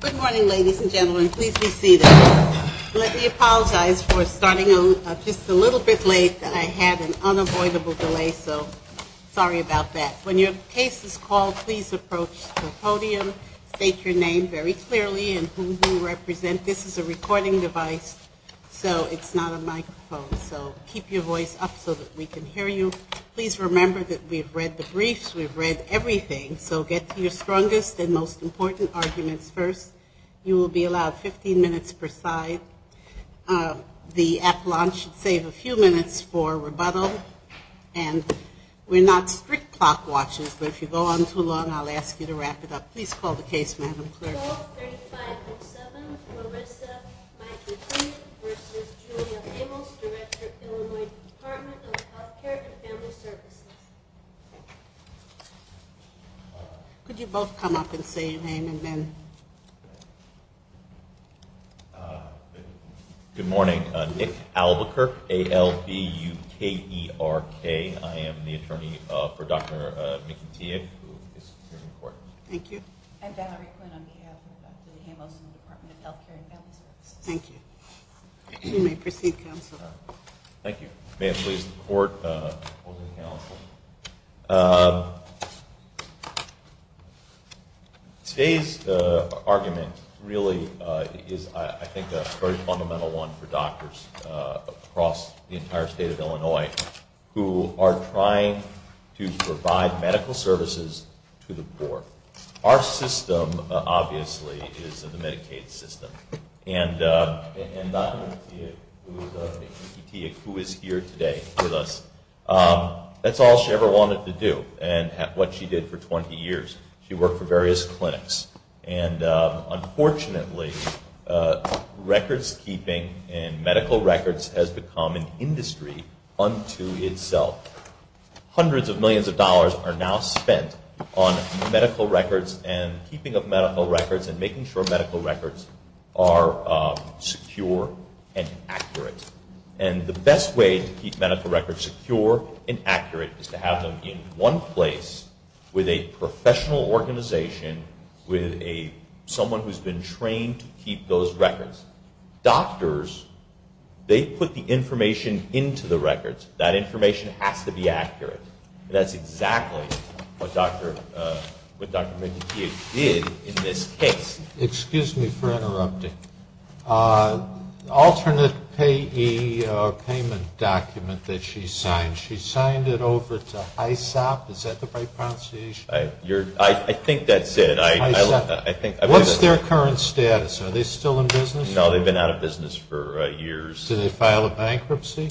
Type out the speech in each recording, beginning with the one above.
Good morning, ladies and gentlemen. Please be seated. Let me apologize for starting just a little bit late. I had an unavoidable delay, so sorry about that. When your case is called, please approach the podium. State your name very clearly and who you represent. This is a recording device, so it's not a microphone. So keep your voice up so that we can hear you. Please remember that we've read the briefs, we've read everything, so get to your strongest and most important arguments first. You will be allowed 15 minutes per side. The appellant should save a few minutes for rebuttal. And we're not strict clock watchers, but if you go on too long, I'll ask you to wrap it up. Please call the case, Madam Clerk. Case call, 35-07, Marissa Mykytiuk v. Julia Hamos, Director, Illinois Department of Health Care and Family Services. Could you both come up and say your name and then? Good morning. Nick Albuquerque, A-L-B-U-K-E-R-K. I am the attorney for Dr. Mykytiuk, who is here in court. Thank you. I'm Valerie Quinn on behalf of Dr. Hamos and the Department of Health Care and Family Services. Thank you. May it please the court. Today's argument really is, I think, a very fundamental one for doctors across the entire state of Illinois who are trying to provide medical services to the poor. Our system, obviously, is the Medicaid system. And Dr. Mykytiuk, who is here today with us, that's all she ever wanted to do and what she did for 20 years. She worked for various clinics. Unfortunately, records keeping and medical records has become an industry unto itself. Hundreds of millions of dollars are now spent on medical records and keeping of medical records and making sure medical records are secure and accurate. And the best way to keep medical records secure and accurate is to have them in one place with a professional organization, with someone who's been trained to keep those records. Doctors, they put the information into the records. That information has to be accurate. That's exactly what Dr. Mykytiuk did in this case. Excuse me for interrupting. Alternate payee payment document that she signed, she signed it over to HISOP. Is that the right pronunciation? I think that's it. What's their current status? Are they still in business? No, they've been out of business for years. Did they file a bankruptcy?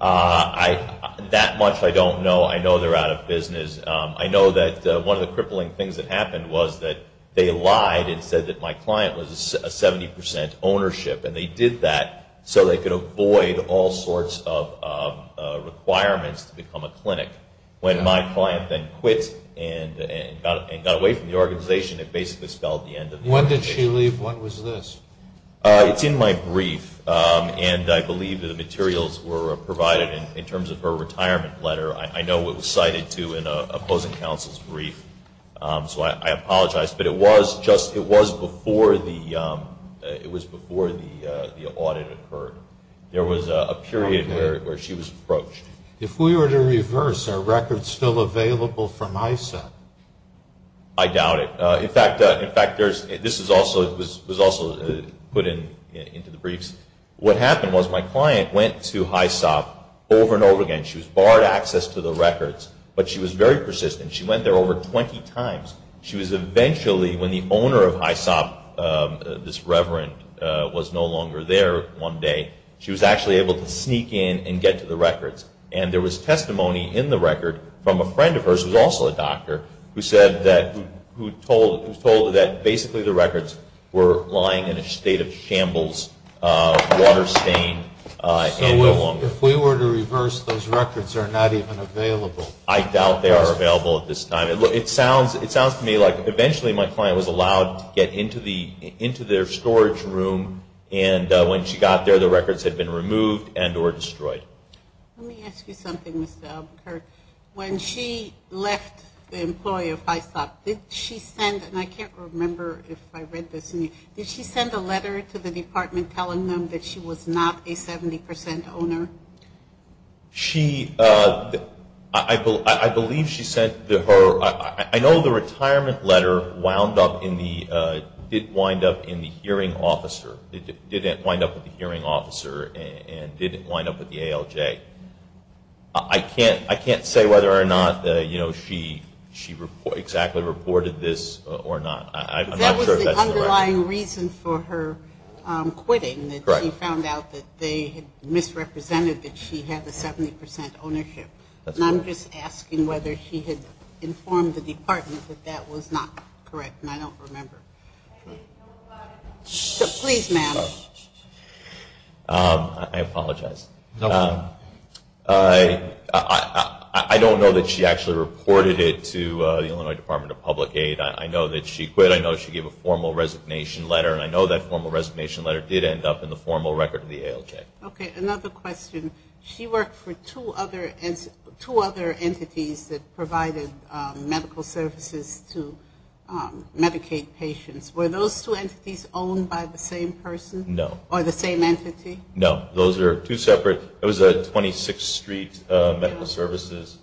That much I don't know. I know they're out of business. I know that one of the crippling things that happened was that they lied and said that my client was a 70% ownership, and they did that so they could avoid all sorts of requirements to become a clinic. When my client then quit and got away from the organization, it basically spelled the end of the story. When did she leave? When was this? It's in my brief, and I believe the materials were provided in terms of her retirement letter. I know it was cited, too, in an opposing counsel's brief, so I apologize. But it was before the audit occurred. There was a period where she was approached. If we were to reverse, are records still available from HISOP? I doubt it. In fact, this was also put into the briefs. What happened was my client went to HISOP over and over again. She was barred access to the records, but she was very persistent. She went there over 20 times. She was eventually, when the owner of HISOP, this reverend, was no longer there one day, she was actually able to sneak in and get to the records. And there was testimony in the record from a friend of hers, who was also a doctor, who told that basically the records were lying in a state of shambles, water stain, and no longer. So if we were to reverse, those records are not even available? I doubt they are available at this time. It sounds to me like eventually my client was allowed to get into their storage room, and when she got there, the records had been removed and or destroyed. Let me ask you something, Mr. Albuquerque. When she left the employee of HISOP, did she send, and I can't remember if I read this, did she send a letter to the department telling them that she was not a 70% owner? She, I believe she sent her, I know the retirement letter wound up in the, it did wind up in the hearing officer. It did wind up with the hearing officer and did wind up with the ALJ. I can't say whether or not she exactly reported this or not. I'm not sure if that's the right. That was the underlying reason for her quitting, that she found out that they had misrepresented that she had the 70% ownership. And I'm just asking whether she had informed the department that that was not correct, and I don't remember. I didn't know about it. Please, ma'am. I apologize. No problem. I don't know that she actually reported it to the Illinois Department of Public Aid. I know that she quit. I know she gave a formal resignation letter, and I know that formal resignation letter did end up in the formal record of the ALJ. Okay, another question. She worked for two other entities that provided medical services to Medicaid patients. Were those two entities owned by the same person? No. Or the same entity? No. Those are two separate. It was 26th Street Medical Services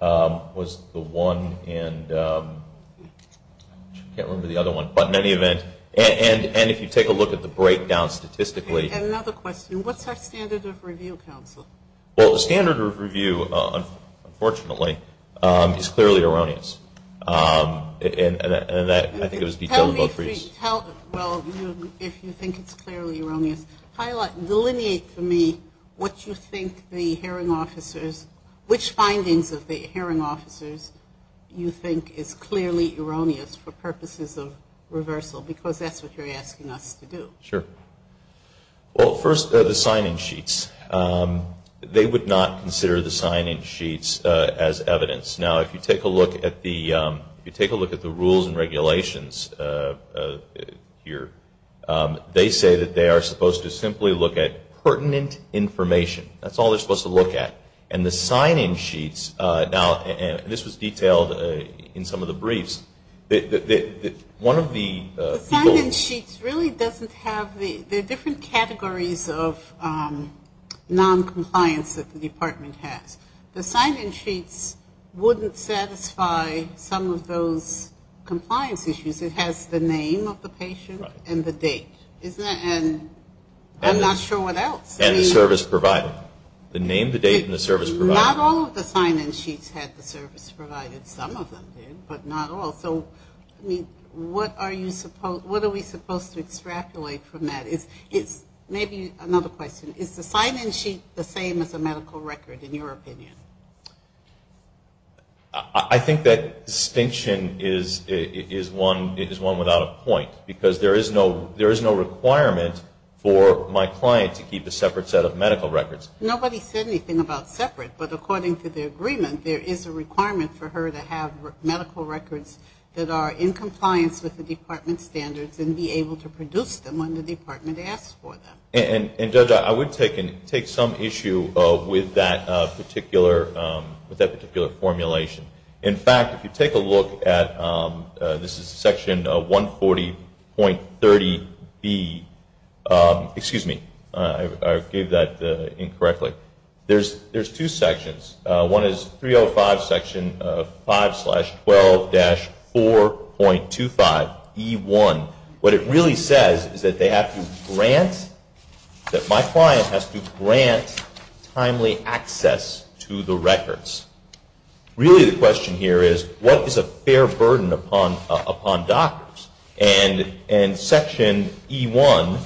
was the one, and I can't remember the other one. But in any event, and if you take a look at the breakdown statistically. And another question. What's our standard of review, counsel? Well, the standard of review, unfortunately, is clearly erroneous. And I think it was detailed in both briefs. Well, if you think it's clearly erroneous, delineate for me what you think the hearing officers, which findings of the hearing officers you think is clearly erroneous for purposes of reversal, because that's what you're asking us to do. Sure. Well, first, the sign-in sheets. They would not consider the sign-in sheets as evidence. Now, if you take a look at the rules and regulations here, they say that they are supposed to simply look at pertinent information. That's all they're supposed to look at. And the sign-in sheets, and this was detailed in some of the briefs. The sign-in sheets really doesn't have the different categories of noncompliance that the department has. The sign-in sheets wouldn't satisfy some of those compliance issues. It has the name of the patient and the date. And I'm not sure what else. And the service provided. The name, the date, and the service provided. Not all of the sign-in sheets had the service provided. Some of them did, but not all. So, I mean, what are we supposed to extrapolate from that? Maybe another question. Is the sign-in sheet the same as a medical record, in your opinion? I think that distinction is one without a point, because there is no requirement for my client to keep a separate set of medical records. Nobody said anything about separate. But according to the agreement, there is a requirement for her to have medical records that are in compliance with the department's standards and be able to produce them when the department asks for them. And, Judge, I would take some issue with that particular formulation. In fact, if you take a look at this is Section 140.30B. Excuse me. I gave that incorrectly. There's two sections. One is 305 Section 5-12-4.25E1. What it really says is that they have to grant, that my client has to grant timely access to the records. Really the question here is, what is a fair burden upon doctors? And Section E1,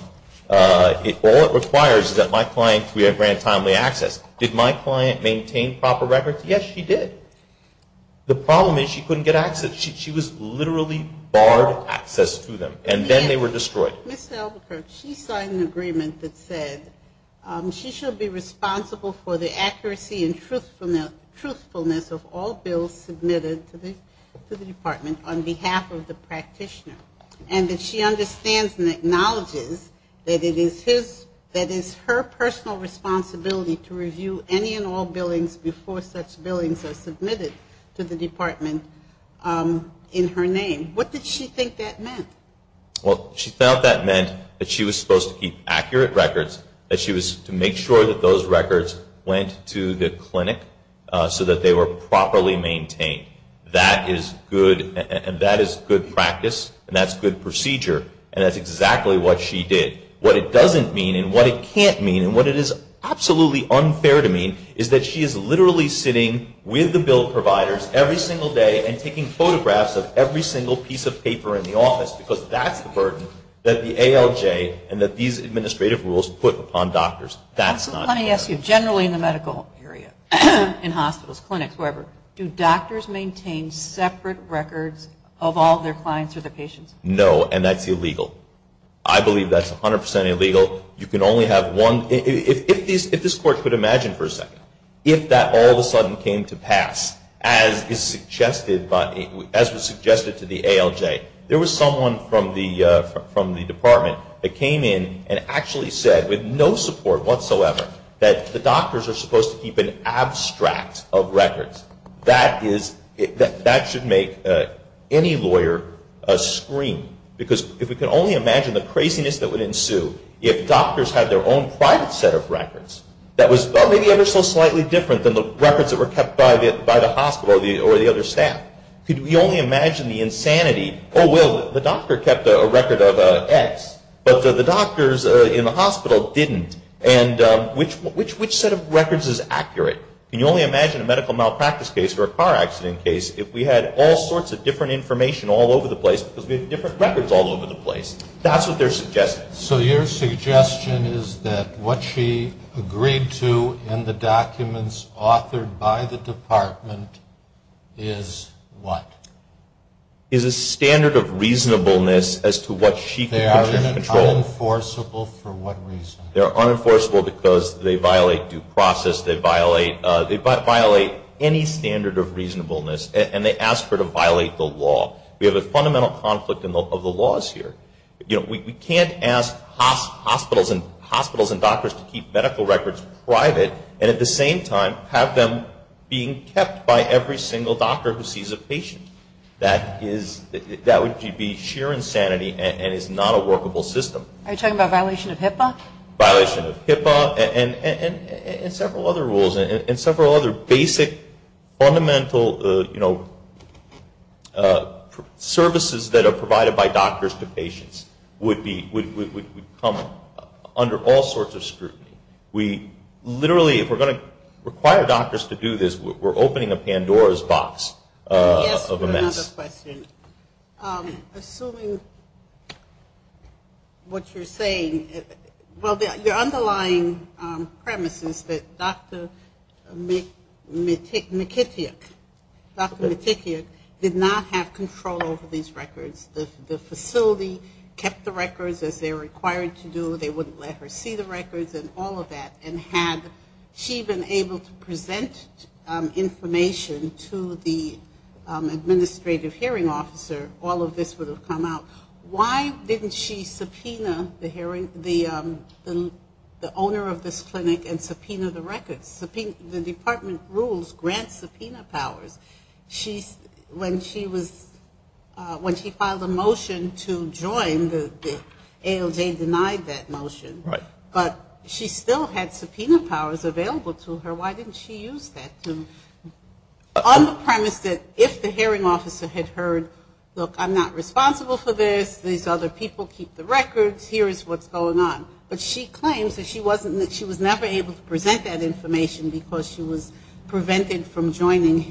all it requires is that my client be granted timely access. Did my client maintain proper records? Yes, she did. The problem is she couldn't get access. She was literally barred access to them. And then they were destroyed. Ms. Albuquerque, she signed an agreement that said she should be responsible for the accuracy and truthfulness of all bills submitted to the department on behalf of the practitioner. And that she understands and acknowledges that it is her personal responsibility to review any and all billings before such billings are submitted to the department in her name. What did she think that meant? Well, she felt that meant that she was supposed to keep accurate records, that she was to make sure that those records went to the clinic so that they were properly maintained. That is good practice and that's good procedure. And that's exactly what she did. What it doesn't mean and what it can't mean and what it is absolutely unfair to mean is that she is literally sitting with the bill providers every single day and taking photographs of every single piece of paper in the office because that's the burden that the ALJ and that these administrative rules put upon doctors. That's not fair. Let me ask you, generally in the medical area, in hospitals, clinics, wherever, do doctors maintain separate records of all their clients or their patients? No, and that's illegal. I believe that's 100% illegal. You can only have one. If this Court could imagine for a second, if that all of a sudden came to pass, as was suggested to the ALJ, there was someone from the department that came in and actually said, with no support whatsoever, that the doctors are supposed to keep an abstract of records. That should make any lawyer scream because if we could only imagine the craziness that would ensue if doctors had their own private set of records that was maybe ever so slightly different than the records that were kept by the hospital or the other staff. Could we only imagine the insanity? Oh, well, the doctor kept a record of X, but the doctors in the hospital didn't. And which set of records is accurate? Can you only imagine a medical malpractice case or a car accident case if we had all sorts of different information all over the place because we have different records all over the place? That's what they're suggesting. So your suggestion is that what she agreed to in the documents authored by the department is what? Is a standard of reasonableness as to what she could put in control. They are unenforceable for what reason? They are unenforceable because they violate due process. They violate any standard of reasonableness, and they ask her to violate the law. We have a fundamental conflict of the laws here. We can't ask hospitals and doctors to keep medical records private and at the same time have them being kept by every single doctor who sees a patient. That would be sheer insanity and is not a workable system. Are you talking about violation of HIPAA? Violation of HIPAA and several other rules and several other basic fundamental services that are provided by doctors to patients would come under all sorts of scrutiny. We literally, if we're going to require doctors to do this, we're opening a Pandora's box of a mess. Assuming what you're saying, well, the underlying premise is that Dr. McIntyre, Dr. McIntyre did not have control over these records. The facility kept the records as they were required to do. They wouldn't let her see the records and all of that, and had she been able to present information to the administrative hearing officer, all of this would have come out. Why didn't she subpoena the owner of this clinic and subpoena the records? The department rules grant subpoena powers. When she filed a motion to join, the ALJ denied that motion, but she still had subpoena powers available to her. Why didn't she use that? On the premise that if the hearing officer had heard, look, I'm not responsible for this, these other people keep the records, here is what's going on. But she claims that she was never able to present that information because she was prevented from joining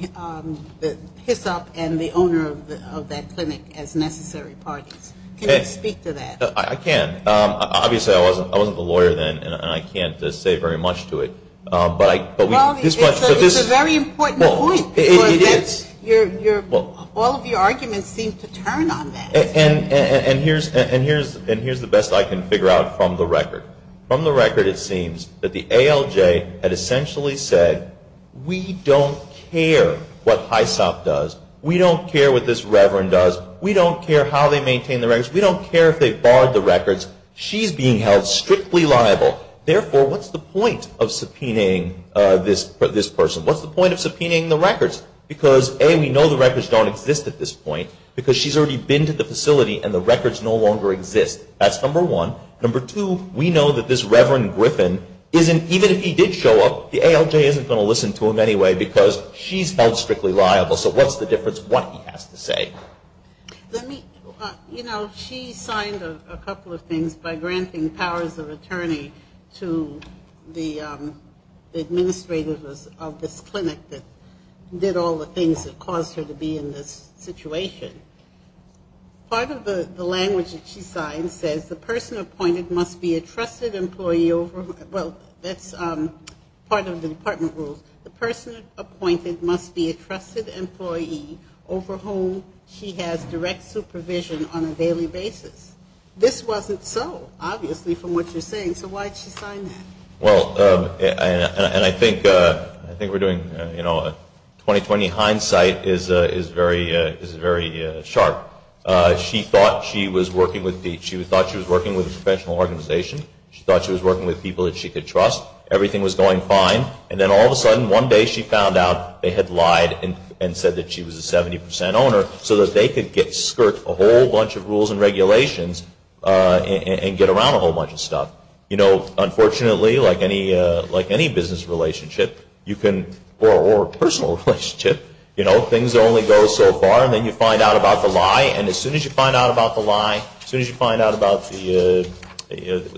the HICUP and the owner of that clinic as necessary parties. Can you speak to that? I can. Obviously I wasn't the lawyer then, and I can't say very much to it. It's a very important point because all of your arguments seem to turn on that. And here's the best I can figure out from the record. From the record it seems that the ALJ had essentially said, we don't care what HISOP does, we don't care what this reverend does, we don't care how they maintain the records, we don't care if they've barred the records, she's being held strictly liable. Therefore, what's the point of subpoenaing this person? What's the point of subpoenaing the records? Because, A, we know the records don't exist at this point because she's already been to the facility and the records no longer exist. That's number one. Number two, we know that this Reverend Griffin isn't, even if he did show up, the ALJ isn't going to listen to him anyway because she's held strictly liable. So what's the difference what he has to say? Let me, you know, she signed a couple of things by granting powers of attorney to the administrators of this clinic that did all the things that caused her to be in this situation. Part of the language that she signed says, the person appointed must be a trusted employee over, well, that's part of the department rules. The person appointed must be a trusted employee over whom she has direct supervision on a daily basis. This wasn't so, obviously, from what you're saying. So why did she sign that? Well, and I think we're doing, you know, 2020 hindsight is very sharp. She thought she was working with a professional organization. She thought she was working with people that she could trust. Everything was going fine. And then all of a sudden, one day she found out they had lied and said that she was a 70% owner so that they could skirt a whole bunch of rules and regulations and get around a whole bunch of stuff. You know, unfortunately, like any business relationship, or personal relationship, you know, things only go so far. And then you find out about the lie. And as soon as you find out about the lie, as soon as you find out about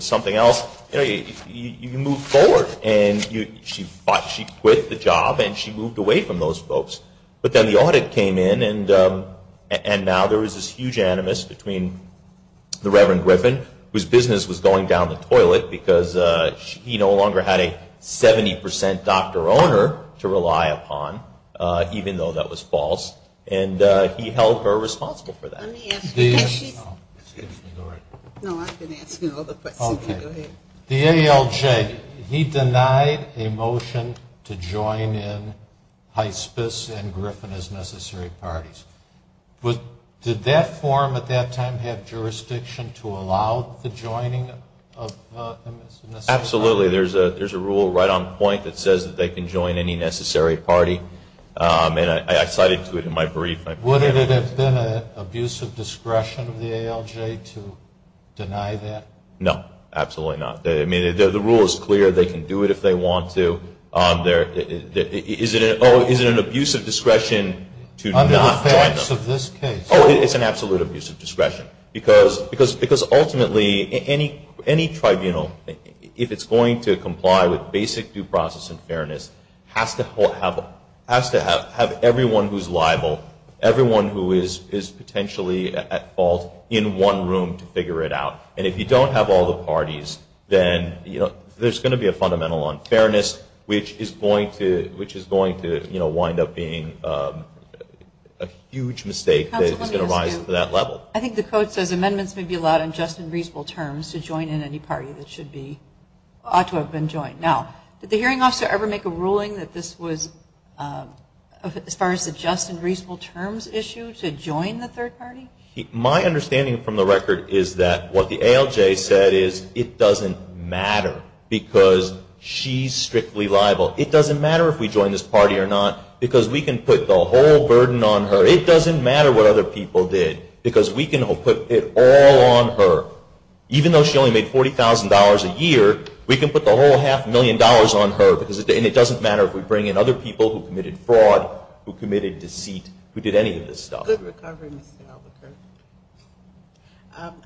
something else, you move forward. And she thought she quit the job, and she moved away from those folks. But then the audit came in, and now there was this huge animus between the Reverend Griffin, whose business was going down the toilet because he no longer had a 70% doctor-owner to rely upon, even though that was false. And he held her responsible for that. Let me ask you a question. Excuse me. Go right ahead. No, I've been asking all the questions. Okay. Go ahead. The ALJ, he denied a motion to join in Hyspis and Griffin as necessary parties. Did that forum at that time have jurisdiction to allow the joining of them as necessary parties? Absolutely. There's a rule right on point that says that they can join any necessary party. And I cited to it in my brief. Would it have been an abuse of discretion of the ALJ to deny that? No, absolutely not. I mean, the rule is clear. They can do it if they want to. Is it an abuse of discretion to not join them? Under the facts of this case. Oh, it's an absolute abuse of discretion. Because ultimately any tribunal, if it's going to comply with basic due process and fairness, has to have everyone who's liable, everyone who is potentially at fault in one room to figure it out. And if you don't have all the parties, then there's going to be a fundamental unfairness, which is going to wind up being a huge mistake that's going to rise to that level. I think the code says amendments may be allowed in just and reasonable terms to join in any party that ought to have been joined. Now, did the hearing officer ever make a ruling that this was, as far as the just and reasonable terms issue, to join the third party? My understanding from the record is that what the ALJ said is it doesn't matter because she's strictly liable. It doesn't matter if we join this party or not because we can put the whole burden on her. It doesn't matter what other people did because we can put it all on her. Even though she only made $40,000 a year, we can put the whole half million dollars on her. And it doesn't matter if we bring in other people who committed fraud, who committed deceit, who did any of this stuff. Good recovery, Mr. Albuquerque.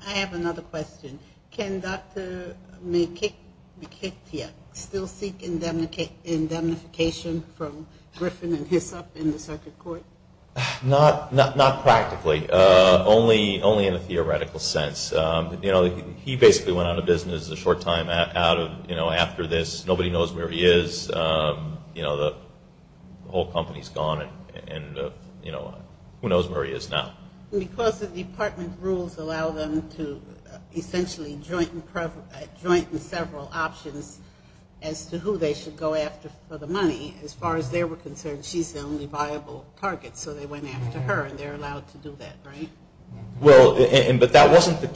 I have another question. Can Dr. Mekithia still seek indemnification from Griffin and Hisop in the circuit court? Not practically. Only in a theoretical sense. He basically went out of business a short time after this. Nobody knows where he is. The whole company is gone. Who knows where he is now? Because the department rules allow them to essentially joint and several options as to who they should go after for the money, as far as they were concerned, she's the only viable target. So they went after her and they're allowed to do that, right? Well, but that wasn't the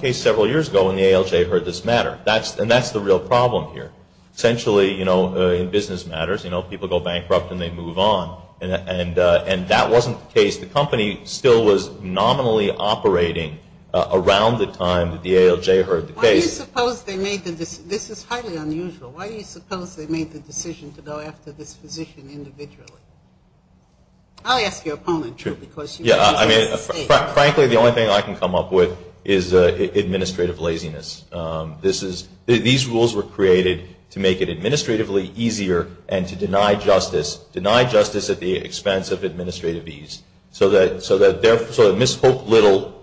case several years ago when the ALJ heard this matter. And that's the real problem here. Essentially, you know, in business matters, you know, people go bankrupt and they move on. And that wasn't the case. The company still was nominally operating around the time that the ALJ heard the case. Why do you suppose they made the decision? This is highly unusual. Why do you suppose they made the decision to go after this physician individually? I'll ask your opponent, too. Yeah, I mean, frankly, the only thing I can come up with is administrative laziness. These rules were created to make it administratively easier and to deny justice, deny justice at the expense of administrative ease so that Ms. Hope Little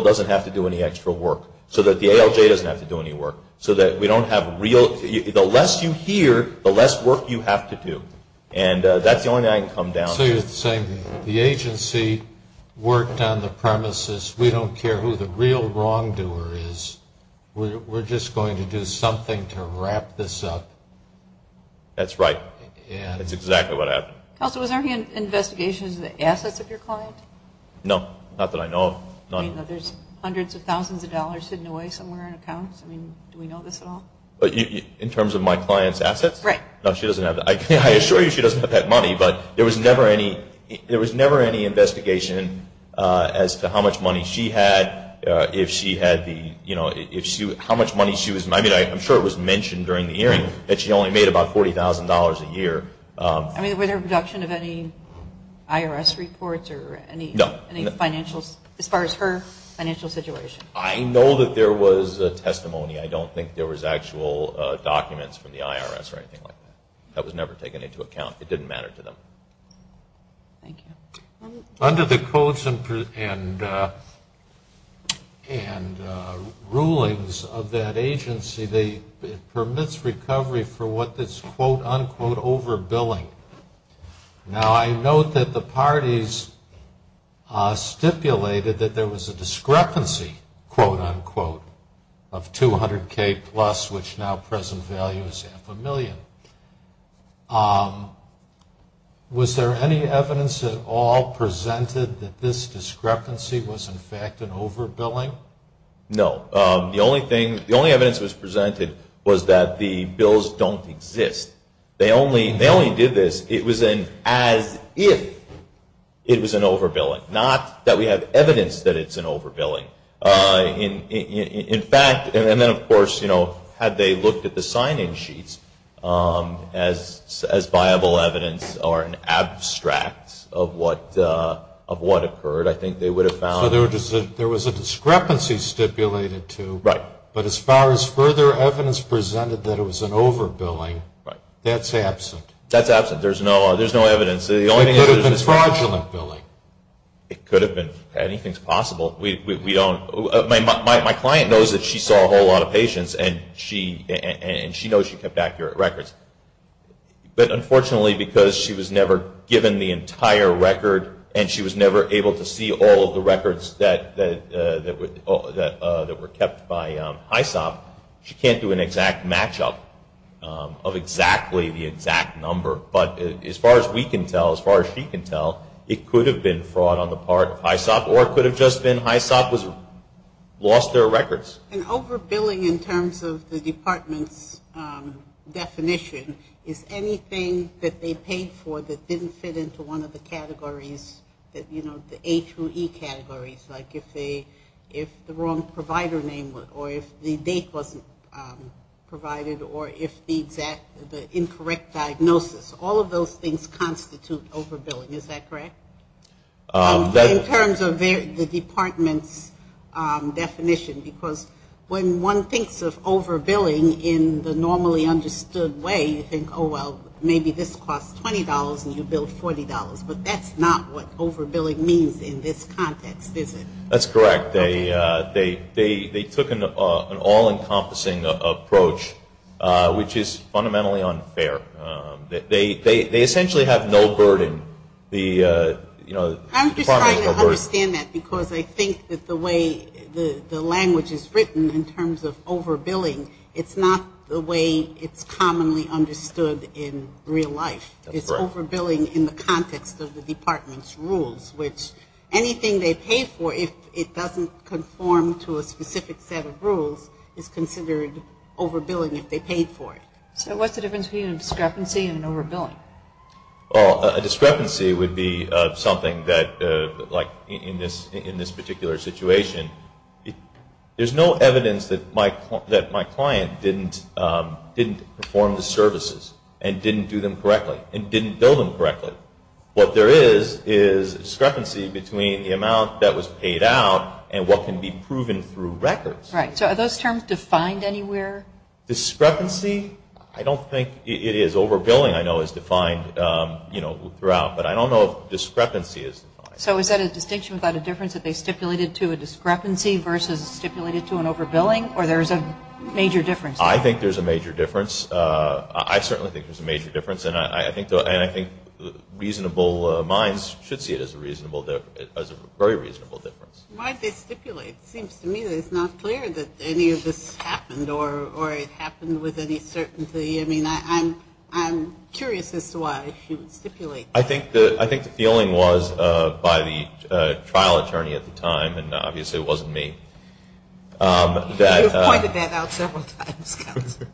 doesn't have to do any extra work, so that the ALJ doesn't have to do any work, so that we don't have real – the less you hear, the less work you have to do. And that's the only thing I can come down with. So you're saying the agency worked on the premises. We don't care who the real wrongdoer is. We're just going to do something to wrap this up. That's right. That's exactly what happened. Counsel, was there any investigation into the assets of your client? No, not that I know of. I mean, there's hundreds of thousands of dollars hidden away somewhere in accounts. I mean, do we know this at all? In terms of my client's assets? Right. No, she doesn't have that. I assure you she doesn't have that money, but there was never any investigation as to how much money she had, if she had the – how much money she was – I mean, I'm sure it was mentioned during the hearing that she only made about $40,000 a year. I mean, was there a production of any IRS reports or any financial – as far as her financial situation? I know that there was a testimony. I don't think there was actual documents from the IRS or anything like that. That was never taken into account. It didn't matter to them. Thank you. Under the codes and rulings of that agency, it permits recovery for what is quote-unquote over-billing. Now, I note that the parties stipulated that there was a discrepancy, quote-unquote, of $200,000 plus, which now present value is half a million. Was there any evidence at all presented that this discrepancy was, in fact, an over-billing? No. The only thing – the only evidence that was presented was that the bills don't exist. They only did this as if it was an over-billing, not that we have evidence that it's an over-billing. In fact – and then, of course, you know, had they looked at the sign-in sheets as viable evidence or an abstract of what occurred, I think they would have found – So there was a discrepancy stipulated, too. Right. But as far as further evidence presented that it was an over-billing, that's absent. That's absent. There's no evidence. It could have been fraudulent billing. It could have been. Anything's possible. We don't – my client knows that she saw a whole lot of patients, and she knows she kept accurate records. But unfortunately, because she was never given the entire record, and she was never able to see all of the records that were kept by HISOP, she can't do an exact match-up of exactly the exact number. But as far as we can tell, as far as she can tell, it could have been fraud on the part of HISOP, or it could have just been HISOP lost their records. An over-billing in terms of the department's definition is anything that they paid for that didn't fit into one of the categories, you know, the A through E categories, like if the wrong provider name or if the date wasn't provided or if the incorrect diagnosis. All of those things constitute over-billing. Is that correct? In terms of the department's definition, because when one thinks of over-billing in the normally understood way, you think, oh, well, maybe this costs $20 and you bill $40. But that's not what over-billing means in this context, is it? That's correct. They took an all-encompassing approach, which is fundamentally unfair. They essentially have no burden. I'm just trying to understand that because I think that the way the language is written in terms of over-billing, it's not the way it's commonly understood in real life. It's over-billing in the context of the department's rules, which anything they pay for, if it doesn't conform to a specific set of rules, is considered over-billing if they paid for it. So what's the difference between a discrepancy and an over-billing? Well, a discrepancy would be something that, like in this particular situation, there's no evidence that my client didn't perform the services and didn't do them correctly and didn't bill them correctly. What there is is discrepancy between the amount that was paid out and what can be proven through records. Right. So are those terms defined anywhere? Discrepancy, I don't think it is. Over-billing, I know, is defined throughout, but I don't know if discrepancy is defined. So is that a distinction without a difference that they stipulated to a discrepancy versus stipulated to an over-billing, or there's a major difference? I think there's a major difference. I certainly think there's a major difference, and I think reasonable minds should see it as a very reasonable difference. Why did they stipulate? It seems to me that it's not clear that any of this happened or it happened with any certainty. I mean, I'm curious as to why she would stipulate. I think the feeling was by the trial attorney at the time, and obviously it wasn't me. You've pointed that out several times, Counselor.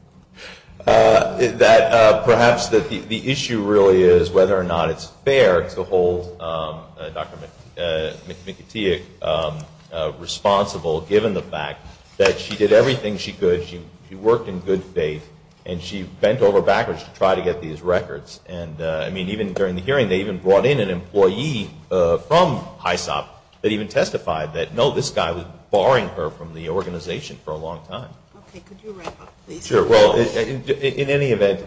That perhaps the issue really is whether or not it's fair to hold Dr. McIntyre responsible, given the fact that she did everything she could. She worked in good faith, and she bent over backwards to try to get these records. And, I mean, even during the hearing, they even brought in an employee from HISOP that even testified that, no, this guy was barring her from the organization for a long time. Okay. Could you wrap up, please? Sure. Well, in any event,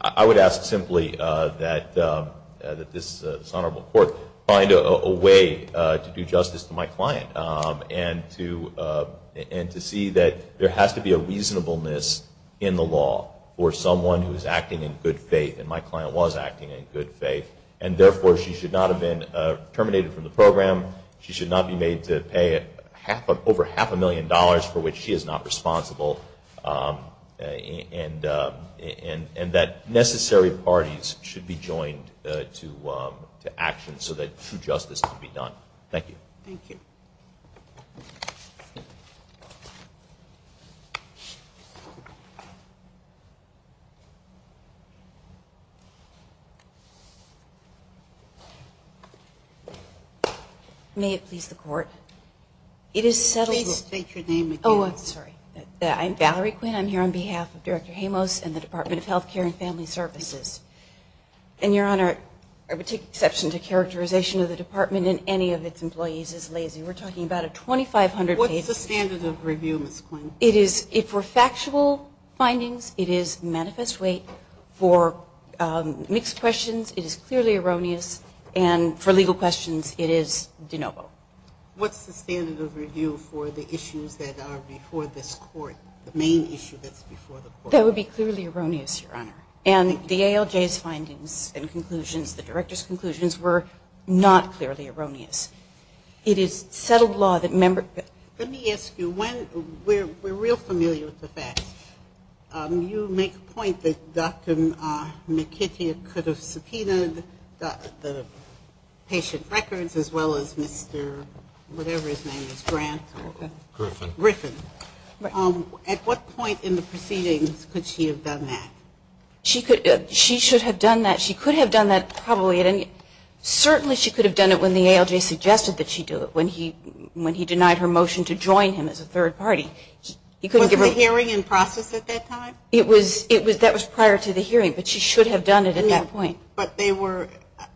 I would ask simply that this Honorable Court find a way to do justice to my client and to see that there has to be a reasonableness in the law for someone who is acting in good faith. And my client was acting in good faith. And, therefore, she should not have been terminated from the program. She should not be made to pay over half a million dollars for which she is not responsible. And that necessary parties should be joined to action so that true justice can be done. Thank you. Thank you. May it please the Court. It is settled. Please state your name again. Oh, I'm sorry. I'm Valerie Quinn. I'm here on behalf of Director Jamos and the Department of Health Care and Family Services. And, Your Honor, I would take exception to characterization that the Department and any of its employees is lazy. We're talking about a 2,500-page- What's the standard of review, Ms. Quinn? It is, for factual findings, it is manifest weight. For mixed questions, it is clearly erroneous. And for legal questions, it is de novo. What's the standard of review for the issues that are before this Court, the main issue that's before the Court? That would be clearly erroneous, Your Honor. And the ALJ's findings and conclusions, the Director's conclusions, were not clearly erroneous. It is settled law that members- Let me ask you, we're real familiar with the facts. You make a point that Dr. McKitty could have subpoenaed the patient records as well as Mr. whatever his name is, Grant or Griffin. At what point in the proceedings could she have done that? She should have done that. She could have done that probably at any- Certainly she could have done it when the ALJ suggested that she do it, when he denied her motion to join him as a third party. Wasn't the hearing in process at that time? That was prior to the hearing, but she should have done it at that point. But they were,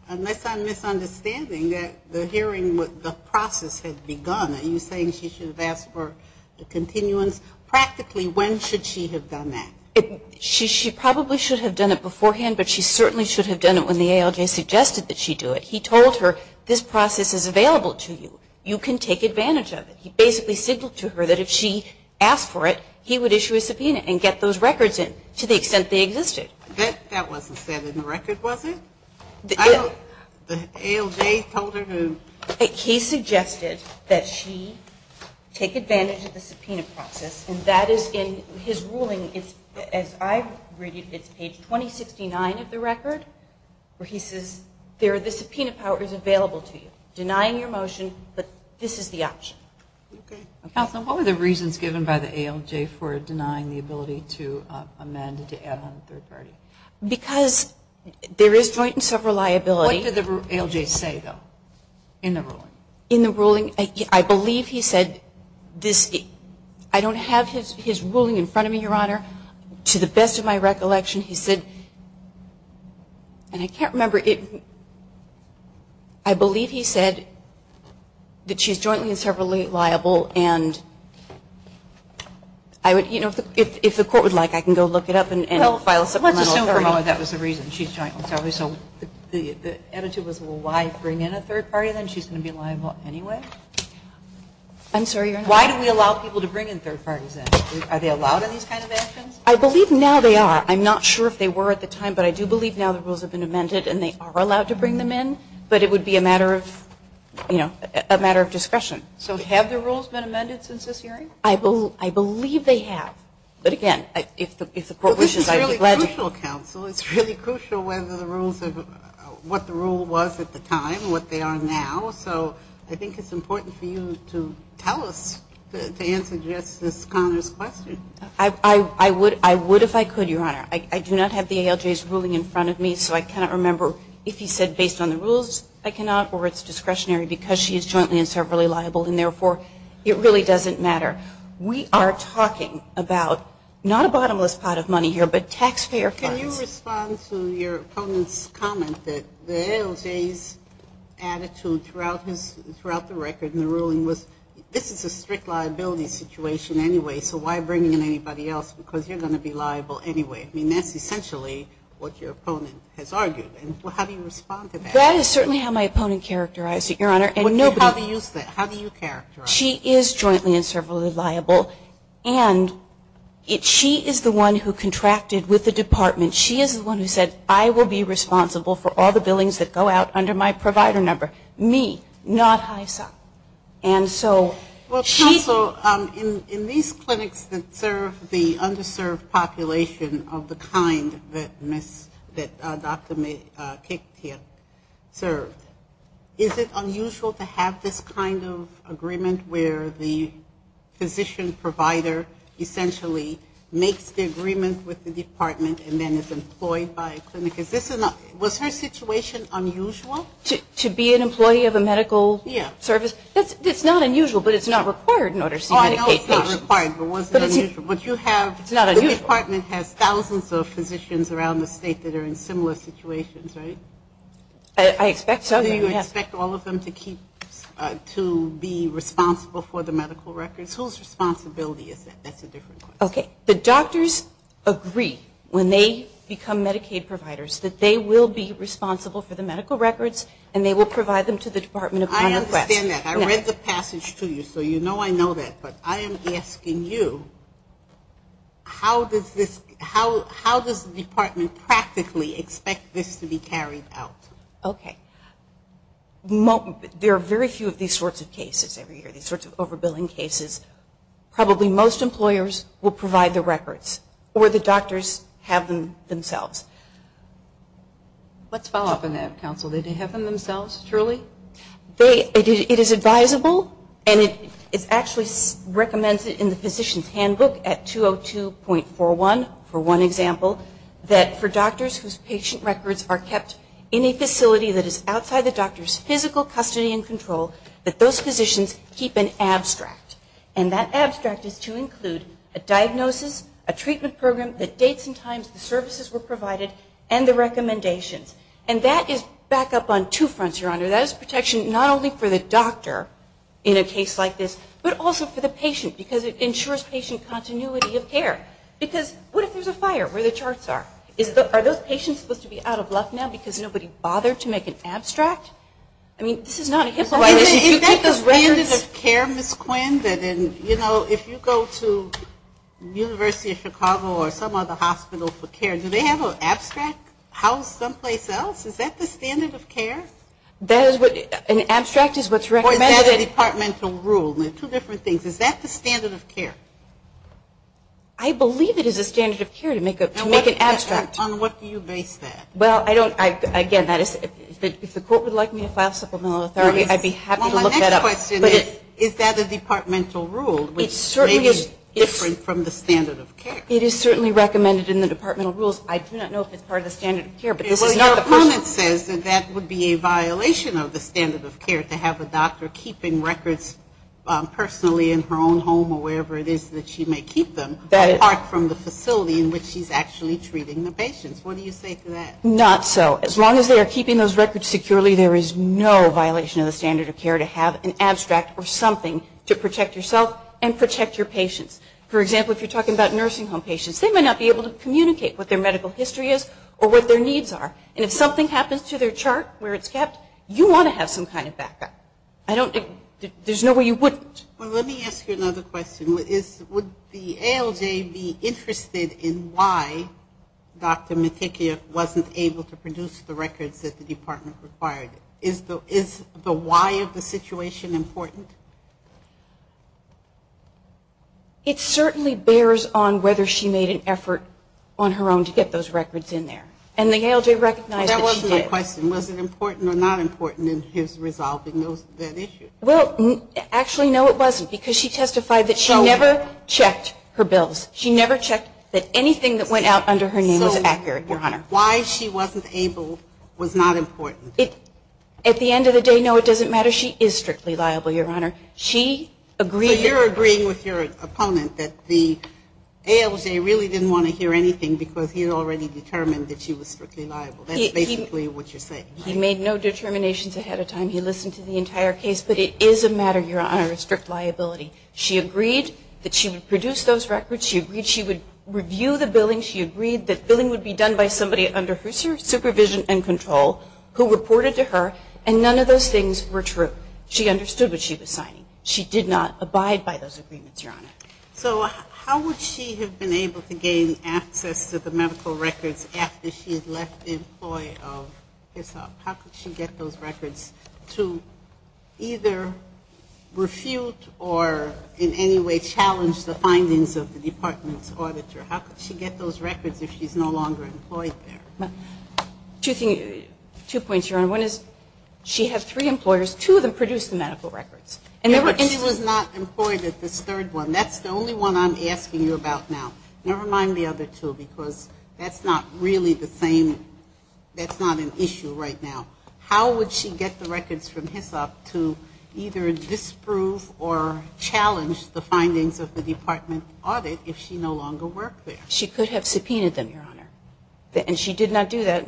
unless I'm misunderstanding, that the hearing, the process had begun. Are you saying she should have asked for the continuance? Practically, when should she have done that? She probably should have done it beforehand, but she certainly should have done it when the ALJ suggested that she do it. He told her, this process is available to you. You can take advantage of it. He basically signaled to her that if she asked for it, he would issue a subpoena and get those records in to the extent they existed. That wasn't said in the record, was it? The ALJ told her who? He suggested that she take advantage of the subpoena process, and that is in his ruling. As I read it, it's page 2069 of the record, where he says the subpoena power is available to you. Denying your motion, but this is the option. Okay. Counsel, what were the reasons given by the ALJ for denying the ability to amend to add on a third party? Because there is joint and several liability. What did the ALJ say, though, in the ruling? In the ruling, I believe he said, I don't have his ruling in front of me, Your Honor. To the best of my recollection, he said, and I can't remember it. I believe he said that she's jointly and several liable, and I would, you know, if the court would like, I can go look it up. Let's assume for a moment that was the reason. So the attitude was, well, why bring in a third party then? She's going to be liable anyway? I'm sorry, Your Honor. Why do we allow people to bring in third parties then? Are they allowed in these kinds of actions? I believe now they are. I'm not sure if they were at the time, but I do believe now the rules have been amended, and they are allowed to bring them in, but it would be a matter of, you know, a matter of discretion. So have the rules been amended since this hearing? I believe they have. But again, if the court wishes, I would be glad to. Well, this is really crucial, counsel. It's really crucial whether the rules are what the rule was at the time, what they are now. So I think it's important for you to tell us, to answer Justice Conner's question. I would if I could, Your Honor. I do not have the ALJ's ruling in front of me, so I cannot remember if he said based on the rules I cannot or it's discretionary because she is jointly and several liable, and therefore it really doesn't matter. We are talking about not a bottomless pot of money here, but taxpayer funds. Can you respond to your opponent's comment that the ALJ's attitude throughout the record in the ruling was this is a strict liability situation anyway, so why bring in anybody else because you're going to be liable anyway? I mean, that's essentially what your opponent has argued. How do you respond to that? That is certainly how my opponent characterized it, Your Honor. How do you use that? How do you characterize it? She is jointly and several liable, and she is the one who contracted with the department. She is the one who said, I will be responsible for all the billings that go out under my provider number. Me, not HISA. And so she – Well, counsel, in these clinics that serve the underserved population of the kind that Ms. – that Dr. Kektir served, is it unusual to have this kind of agreement where the physician provider essentially makes the agreement with the department and then is employed by a clinic? Is this – was her situation unusual? To be an employee of a medical service? Yeah. That's – it's not unusual, but it's not required in order to medicate patients. Oh, I know it's not required, but was it unusual? But you have – It's not unusual. The department has thousands of physicians around the state that are in similar situations, right? I expect so. Do you expect all of them to keep – to be responsible for the medical records? Whose responsibility is that? That's a different question. Okay. The doctors agree when they become Medicaid providers that they will be responsible for the medical records, and they will provide them to the department upon request. I understand that. I read the passage to you, so you know I know that. But I am asking you, how does this – how does the department practically expect this to be carried out? Okay. There are very few of these sorts of cases every year, these sorts of overbilling cases. Probably most employers will provide the records, or the doctors have them themselves. Let's follow up on that, counsel. Do they have them themselves, truly? It is advisable, and it's actually recommended in the physician's handbook at 202.41, for one example, that for doctors whose patient records are kept in a facility that is outside the doctor's physical custody and control, that those physicians keep an abstract. And that abstract is to include a diagnosis, a treatment program that dates and times the services were provided, and the recommendations. That is protection not only for the doctor in a case like this, but also for the patient, because it ensures patient continuity of care. Because what if there's a fire where the charts are? Are those patients supposed to be out of luck now because nobody bothered to make an abstract? I mean, this is not a HIPAA violation. Is that the standard of care, Ms. Quinn, that in – you know, if you go to the University of Chicago or some other hospital for care, do they have an abstract housed someplace else? Is that the standard of care? That is what – an abstract is what's recommended. Or is that a departmental rule? They're two different things. Is that the standard of care? I believe it is a standard of care to make an abstract. And on what do you base that? Well, I don't – again, that is – if the court would like me to file supplemental authority, I'd be happy to look that up. Well, my next question is, is that a departmental rule, which may be different from the standard of care? It is certainly recommended in the departmental rules. I do not know if it's part of the standard of care, but this is not the person – Your opponent says that that would be a violation of the standard of care, to have a doctor keeping records personally in her own home or wherever it is that she may keep them, apart from the facility in which she's actually treating the patients. What do you say to that? Not so. As long as they are keeping those records securely, there is no violation of the standard of care to have an abstract or something to protect yourself and protect your patients. For example, if you're talking about nursing home patients, they may not be able to communicate what their medical history is or what their needs are. And if something happens to their chart where it's kept, you want to have some kind of backup. I don't – there's no way you wouldn't. Well, let me ask you another question. Would the ALJ be interested in why Dr. Matyikio wasn't able to produce the records that the department required? Is the why of the situation important? It certainly bears on whether she made an effort on her own to get those records in there. And the ALJ recognized that she did. That wasn't the question. Was it important or not important in his resolving that issue? Well, actually, no, it wasn't, because she testified that she never checked her bills. She never checked that anything that went out under her name was accurate, Your Honor. So why she wasn't able was not important? At the end of the day, no, it doesn't matter. She is strictly liable, Your Honor. So you're agreeing with your opponent that the ALJ really didn't want to hear anything because he had already determined that she was strictly liable. That's basically what you're saying. He made no determinations ahead of time. He listened to the entire case. But it is a matter, Your Honor, of strict liability. She agreed that she would produce those records. She agreed she would review the billing. She agreed that billing would be done by somebody under her supervision and control who reported to her. And none of those things were true. She understood what she was signing. She did not abide by those agreements, Your Honor. So how would she have been able to gain access to the medical records after she had left the employee of HISOP? How could she get those records to either refute or in any way challenge the findings of the department's auditor? How could she get those records if she's no longer employed there? Two points, Your Honor. One is she has three employers. Two of them produce the medical records. And she was not employed at this third one. That's the only one I'm asking you about now. Never mind the other two because that's not really the same. That's not an issue right now. How would she get the records from HISOP to either disprove or challenge the findings of the department audit if she no longer worked there? She could have subpoenaed them, Your Honor. And she did not do that.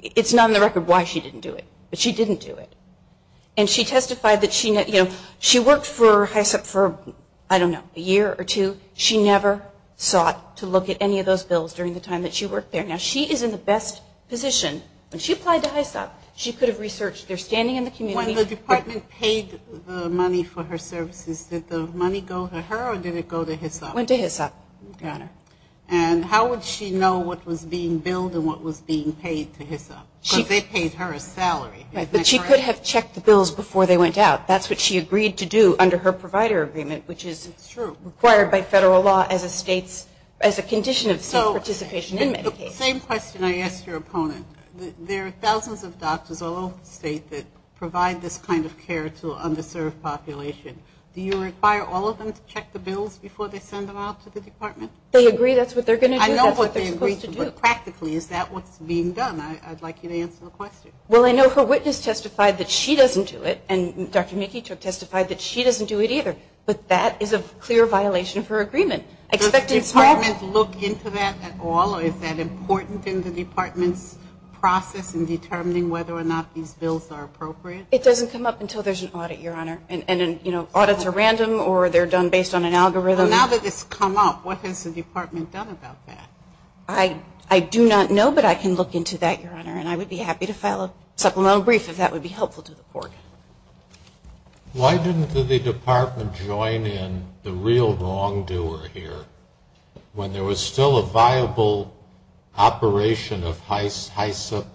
It's not on the record why she didn't do it, but she didn't do it. And she testified that she worked for HISOP for, I don't know, a year or two. She never sought to look at any of those bills during the time that she worked there. Now, she is in the best position. When she applied to HISOP, she could have researched their standing in the community. When the department paid the money for her services, did the money go to her or did it go to HISOP? It went to HISOP. Got it. And how would she know what was being billed and what was being paid to HISOP? Because they paid her a salary. But she could have checked the bills before they went out. That's what she agreed to do under her provider agreement, which is required by federal law as a condition of state participation in Medicaid. The same question I asked your opponent. There are thousands of doctors all over the state that provide this kind of care to an underserved population. Do you require all of them to check the bills before they send them out to the department? They agree that's what they're going to do. I know what they're supposed to do. But practically, is that what's being done? I'd like you to answer the question. Well, I know her witness testified that she doesn't do it, and Dr. McKee testified that she doesn't do it either. But that is a clear violation of her agreement. Does the department look into that at all, or is that important in the department's process in determining whether or not these bills are appropriate? It doesn't come up until there's an audit, Your Honor. And, you know, audits are random or they're done based on an algorithm. Well, now that it's come up, what has the department done about that? I do not know, but I can look into that, Your Honor, and I would be happy to file a supplemental brief if that would be helpful to the court. Why didn't the department join in the real wrongdoer here when there was still a viable operation of HISEP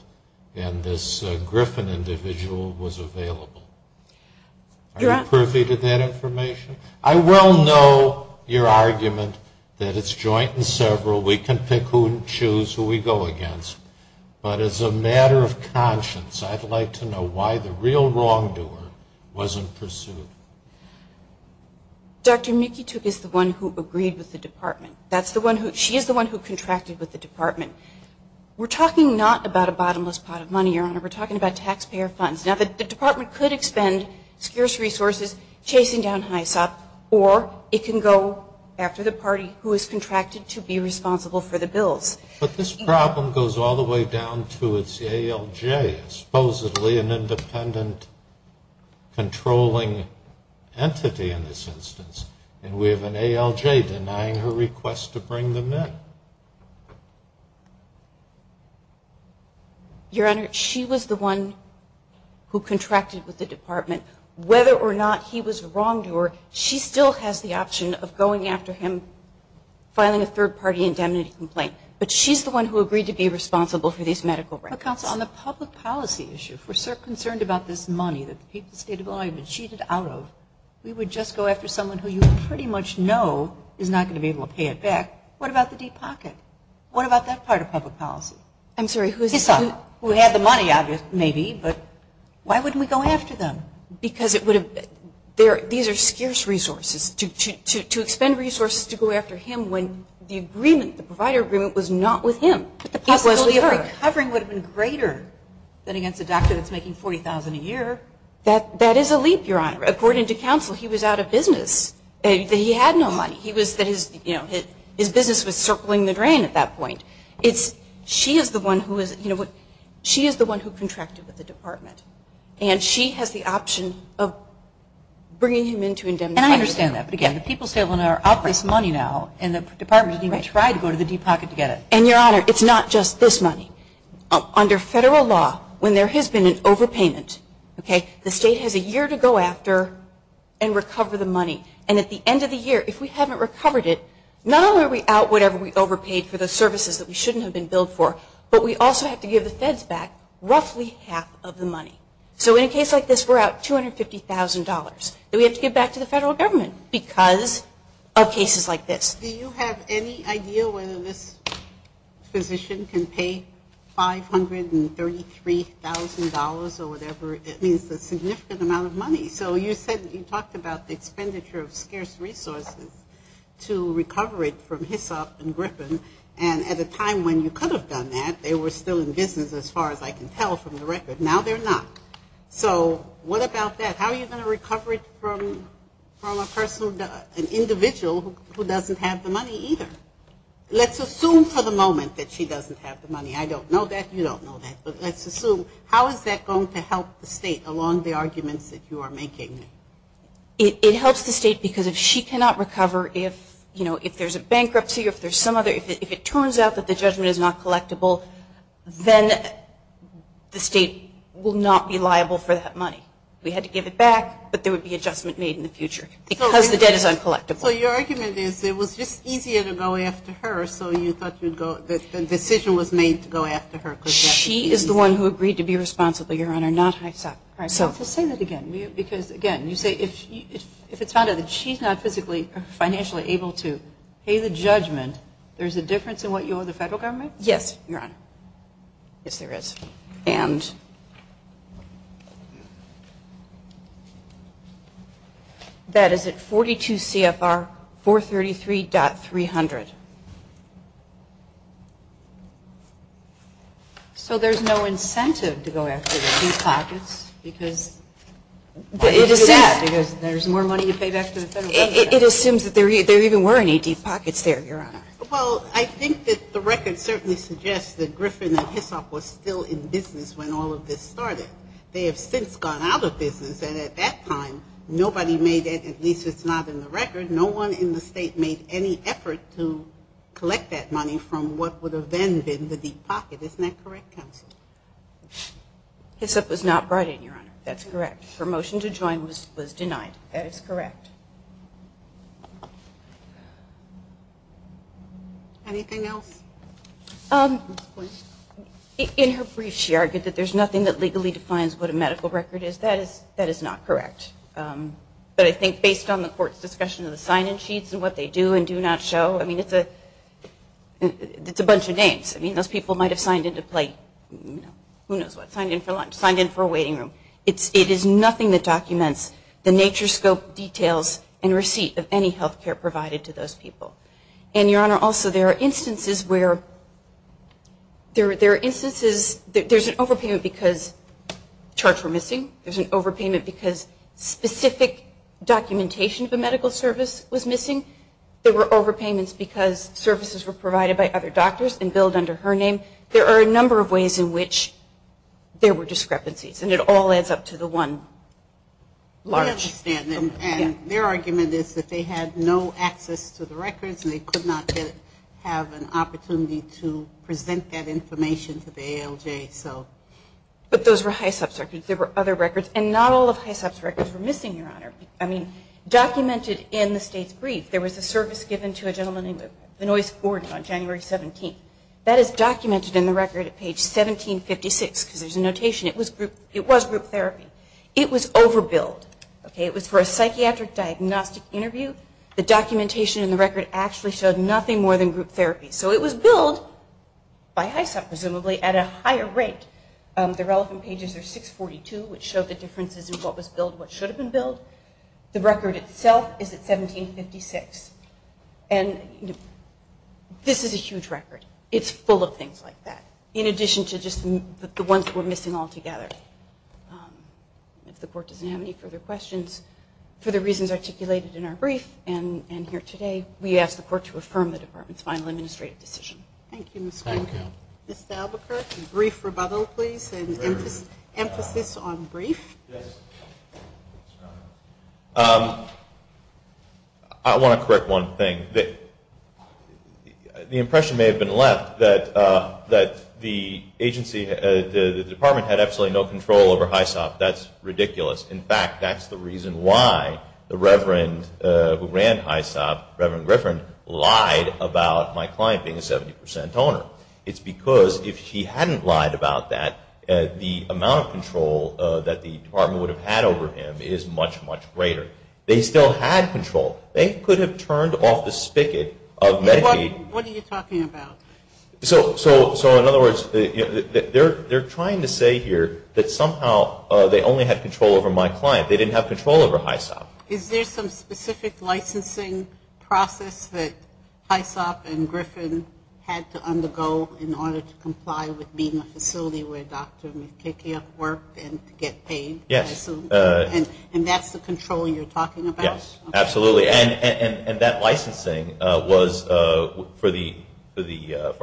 and this Griffin individual was available? Are you privy to that information? I well know your argument that it's joint and several. We can pick who and choose who we go against. But as a matter of conscience, I'd like to know why the real wrongdoer wasn't pursued. Dr. Mikituk is the one who agreed with the department. She is the one who contracted with the department. We're talking not about a bottomless pot of money, Your Honor. We're talking about taxpayer funds. Now, the department could expend scarce resources chasing down HISEP, or it can go after the party who is contracted to be responsible for the bills. But this problem goes all the way down to its ALJ, supposedly an independent controlling entity in this instance, and we have an ALJ denying her request to bring them in. Your Honor, she was the one who contracted with the department. Whether or not he was a wrongdoer, she still has the option of going after him, filing a third-party indemnity complaint. But she's the one who agreed to be responsible for these medical records. But, counsel, on the public policy issue, if we're so concerned about this money that the people of the state of Illinois have been cheated out of, we would just go after someone who you pretty much know is not going to be able to pay it back. What about the Deep Pocket? What about that part of public policy? I'm sorry, who is it? HISEP, who had the money, maybe, but why wouldn't we go after them? Because it would have been – these are scarce resources. To expend resources to go after him when the agreement, the provider agreement, was not with him. But the possibility of recovering would have been greater than against a doctor that's making $40,000 a year. That is a leap, Your Honor. According to counsel, he was out of business. He had no money. His business was circling the drain at that point. She is the one who contracted with the department, and she has the option of bringing him in to indemnify him. And I understand that. But, again, the people of the state of Illinois are up this money now, and the department didn't even try to go to the Deep Pocket to get it. And, Your Honor, it's not just this money. Under federal law, when there has been an overpayment, okay, the state has a year to go after and recover the money. And at the end of the year, if we haven't recovered it, not only are we out whatever we overpaid for the services that we shouldn't have been billed for, but we also have to give the feds back roughly half of the money. So in a case like this, we're out $250,000 that we have to give back to the federal government because of cases like this. Do you have any idea whether this physician can pay $533,000 or whatever? It means a significant amount of money. So you said that you talked about the expenditure of scarce resources to recover it from Hisop and Griffin. And at a time when you could have done that, they were still in business, as far as I can tell from the record. Now they're not. So what about that? How are you going to recover it from a person, an individual who doesn't have the money either? Let's assume for the moment that she doesn't have the money. I don't know that. You don't know that. But let's assume. How is that going to help the state along the arguments that you are making? It helps the state because if she cannot recover, if, you know, if there's a bankruptcy, if there's some other – if it turns out that the judgment is not collectible, then the state will not be liable for that money. We had to give it back, but there would be adjustment made in the future because the debt is uncollectible. So your argument is it was just easier to go after her, so you thought the decision was made to go after her because that would be easier? She is the one who agreed to be responsible, Your Honor, not Hisop. All right. Just say that again. Because, again, you say if it's found out that she's not physically or financially able to pay the judgment, there's a difference in what you owe the federal government? Yes, Your Honor. Yes, there is. And that is at 42 CFR 433.300. So there's no incentive to go after the Deep Pockets because there's more money to pay back to the federal government. It assumes that there even were any Deep Pockets there, Your Honor. Well, I think that the record certainly suggests that Griffin and Hisop were still in business when all of this started. They have since gone out of business. And at that time, nobody made it, at least it's not in the record, no one in the state made any effort to collect that money from what would have then been the Deep Pocket. Isn't that correct, Counsel? Hisop was not brought in, Your Honor. That's correct. Her motion to join was denied. That is correct. Anything else? In her brief, she argued that there's nothing that legally defines what a medical record is. That is not correct. But I think based on the court's discussion of the sign-in sheets and what they do and do not show, I mean, it's a bunch of names. I mean, those people might have signed in to play, who knows what, signed in for lunch, signed in for a waiting room. It is nothing that documents the nature, scope, details, and receipt of any health care provided to those people. And, Your Honor, also there are instances where there are instances that there's an overpayment because charts were missing. There's an overpayment because specific documentation of a medical service was missing. There were overpayments because services were provided by other doctors and billed under her name. There are a number of ways in which there were discrepancies, and it all adds up to the one large. I understand. And their argument is that they had no access to the records, and they could not have an opportunity to present that information to the ALJ. But those were Hisop's records. There were other records, and not all of Hisop's records were missing, Your Honor. I mean, documented in the state's brief, there was a service given to a gentleman named Benoist Gordon on January 17th. That is documented in the record at page 1756 because there's a notation. It was group therapy. It was overbilled. It was for a psychiatric diagnostic interview. The documentation in the record actually showed nothing more than group therapy. So it was billed by Hisop, presumably, at a higher rate. The relevant pages are 642, which showed the differences in what was billed and what should have been billed. The record itself is at 1756. And this is a huge record. It's full of things like that, in addition to just the ones that were missing altogether. If the Court doesn't have any further questions, for the reasons articulated in our brief and here today, we ask the Court to affirm the Department's final administrative decision. Thank you, Ms. Fink. Thank you. Mr. Albuquerque, a brief rebuttal, please, and emphasis on brief. Yes, Your Honor. I want to correct one thing. The impression may have been left that the agency, the Department, had absolutely no control over Hisop. That's ridiculous. In fact, that's the reason why the Reverend who ran Hisop, Reverend Griffin, lied about my client being a 70 percent owner. It's because if he hadn't lied about that, the amount of control that the Department would have had over him is much, much greater. They still had control. They could have turned off the spigot of Medicaid. What are you talking about? So, in other words, they're trying to say here that somehow they only had control over my client. They didn't have control over Hisop. Is there some specific licensing process that Hisop and Griffin had to undergo in order to comply with being a facility where a doctor can't work and get paid? Yes. And that's the control you're talking about? Yes, absolutely. And that licensing for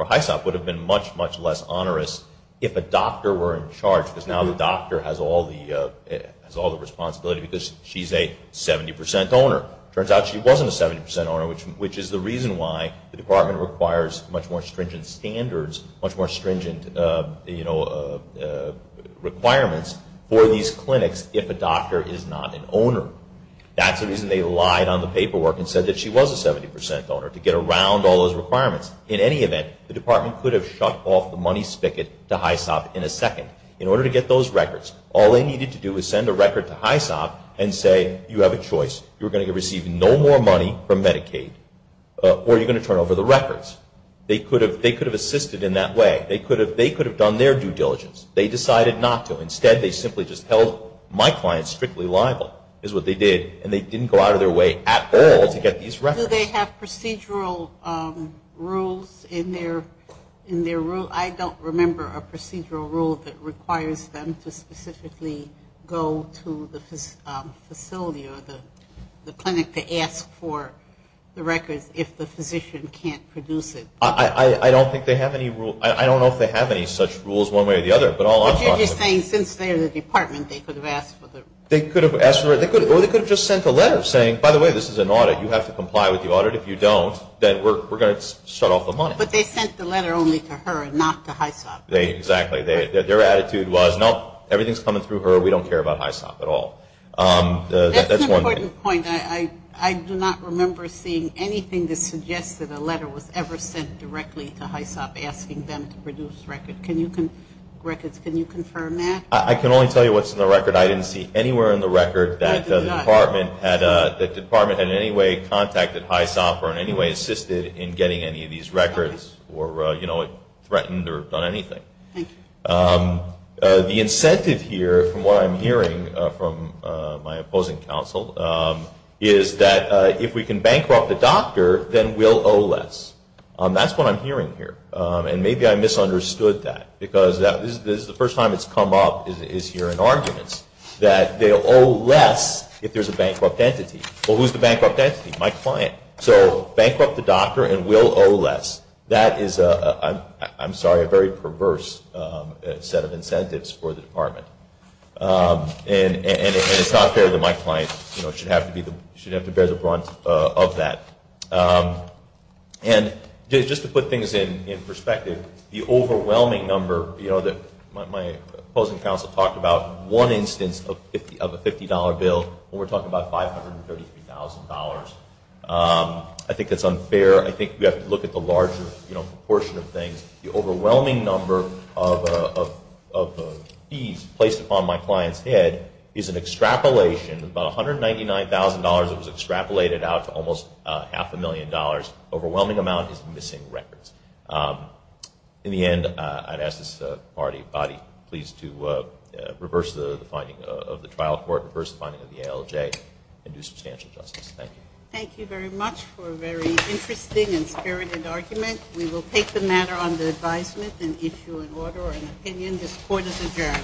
Hisop would have been much, much less onerous if a doctor were in charge because now the doctor has all the responsibility because she's a 70 percent owner. It turns out she wasn't a 70 percent owner, which is the reason why the Department requires much more stringent standards, much more stringent requirements for these clinics if a doctor is not an owner. That's the reason they lied on the paperwork and said that she was a 70 percent owner, to get around all those requirements. In any event, the Department could have shut off the money spigot to Hisop in a second. In order to get those records, all they needed to do was send a record to Hisop and say, you have a choice. You're going to receive no more money from Medicaid or you're going to turn over the records. They could have assisted in that way. They could have done their due diligence. They decided not to. Instead, they simply just held my clients strictly liable, is what they did, and they didn't go out of their way at all to get these records. Do they have procedural rules in their rule? I don't remember a procedural rule that requires them to specifically go to the facility or the clinic to ask for the records if the physician can't produce it. I don't think they have any rules. I don't know if they have any such rules one way or the other. But all I'm talking about is the rules. But you're just saying since they're the Department, they could have asked for the records. They could have asked for the records. Or they could have just sent a letter saying, by the way, this is an audit. You have to comply with the audit. If you don't, then we're going to shut off the money. But they sent the letter only to her and not to Hisop. Exactly. Their attitude was, nope, everything is coming through her. We don't care about Hisop at all. That's one thing. That's an important point. I do not remember seeing anything that suggests that a letter was ever sent directly to Hisop asking them to produce records. Can you confirm that? I can only tell you what's in the record. I didn't see anywhere in the record that the Department in any way contacted Hisop or in any way assisted in getting any of these records or threatened or done anything. Thank you. The incentive here from what I'm hearing from my opposing counsel is that if we can bankrupt the doctor, then we'll owe less. That's what I'm hearing here. And maybe I misunderstood that because this is the first time it's come up here in arguments, that they'll owe less if there's a bankrupt entity. Well, who's the bankrupt entity? My client. So bankrupt the doctor and we'll owe less. That is, I'm sorry, a very perverse set of incentives for the Department. And it's not fair that my client should have to bear the brunt of that. And just to put things in perspective, the overwhelming number that my opposing counsel talked about, one instance of a $50 bill when we're talking about $533,000, I think that's unfair. I think we have to look at the larger proportion of things. The overwhelming number of fees placed upon my client's head is an extrapolation, about $199,000 that was extrapolated out to almost half a million dollars. Overwhelming amount is missing records. In the end, I'd ask this body please to reverse the finding of the trial court, reverse the finding of the ALJ, and do substantial justice. Thank you. Thank you very much for a very interesting and spirited argument. We will take the matter under advisement and issue an order or an opinion. This court is adjourned.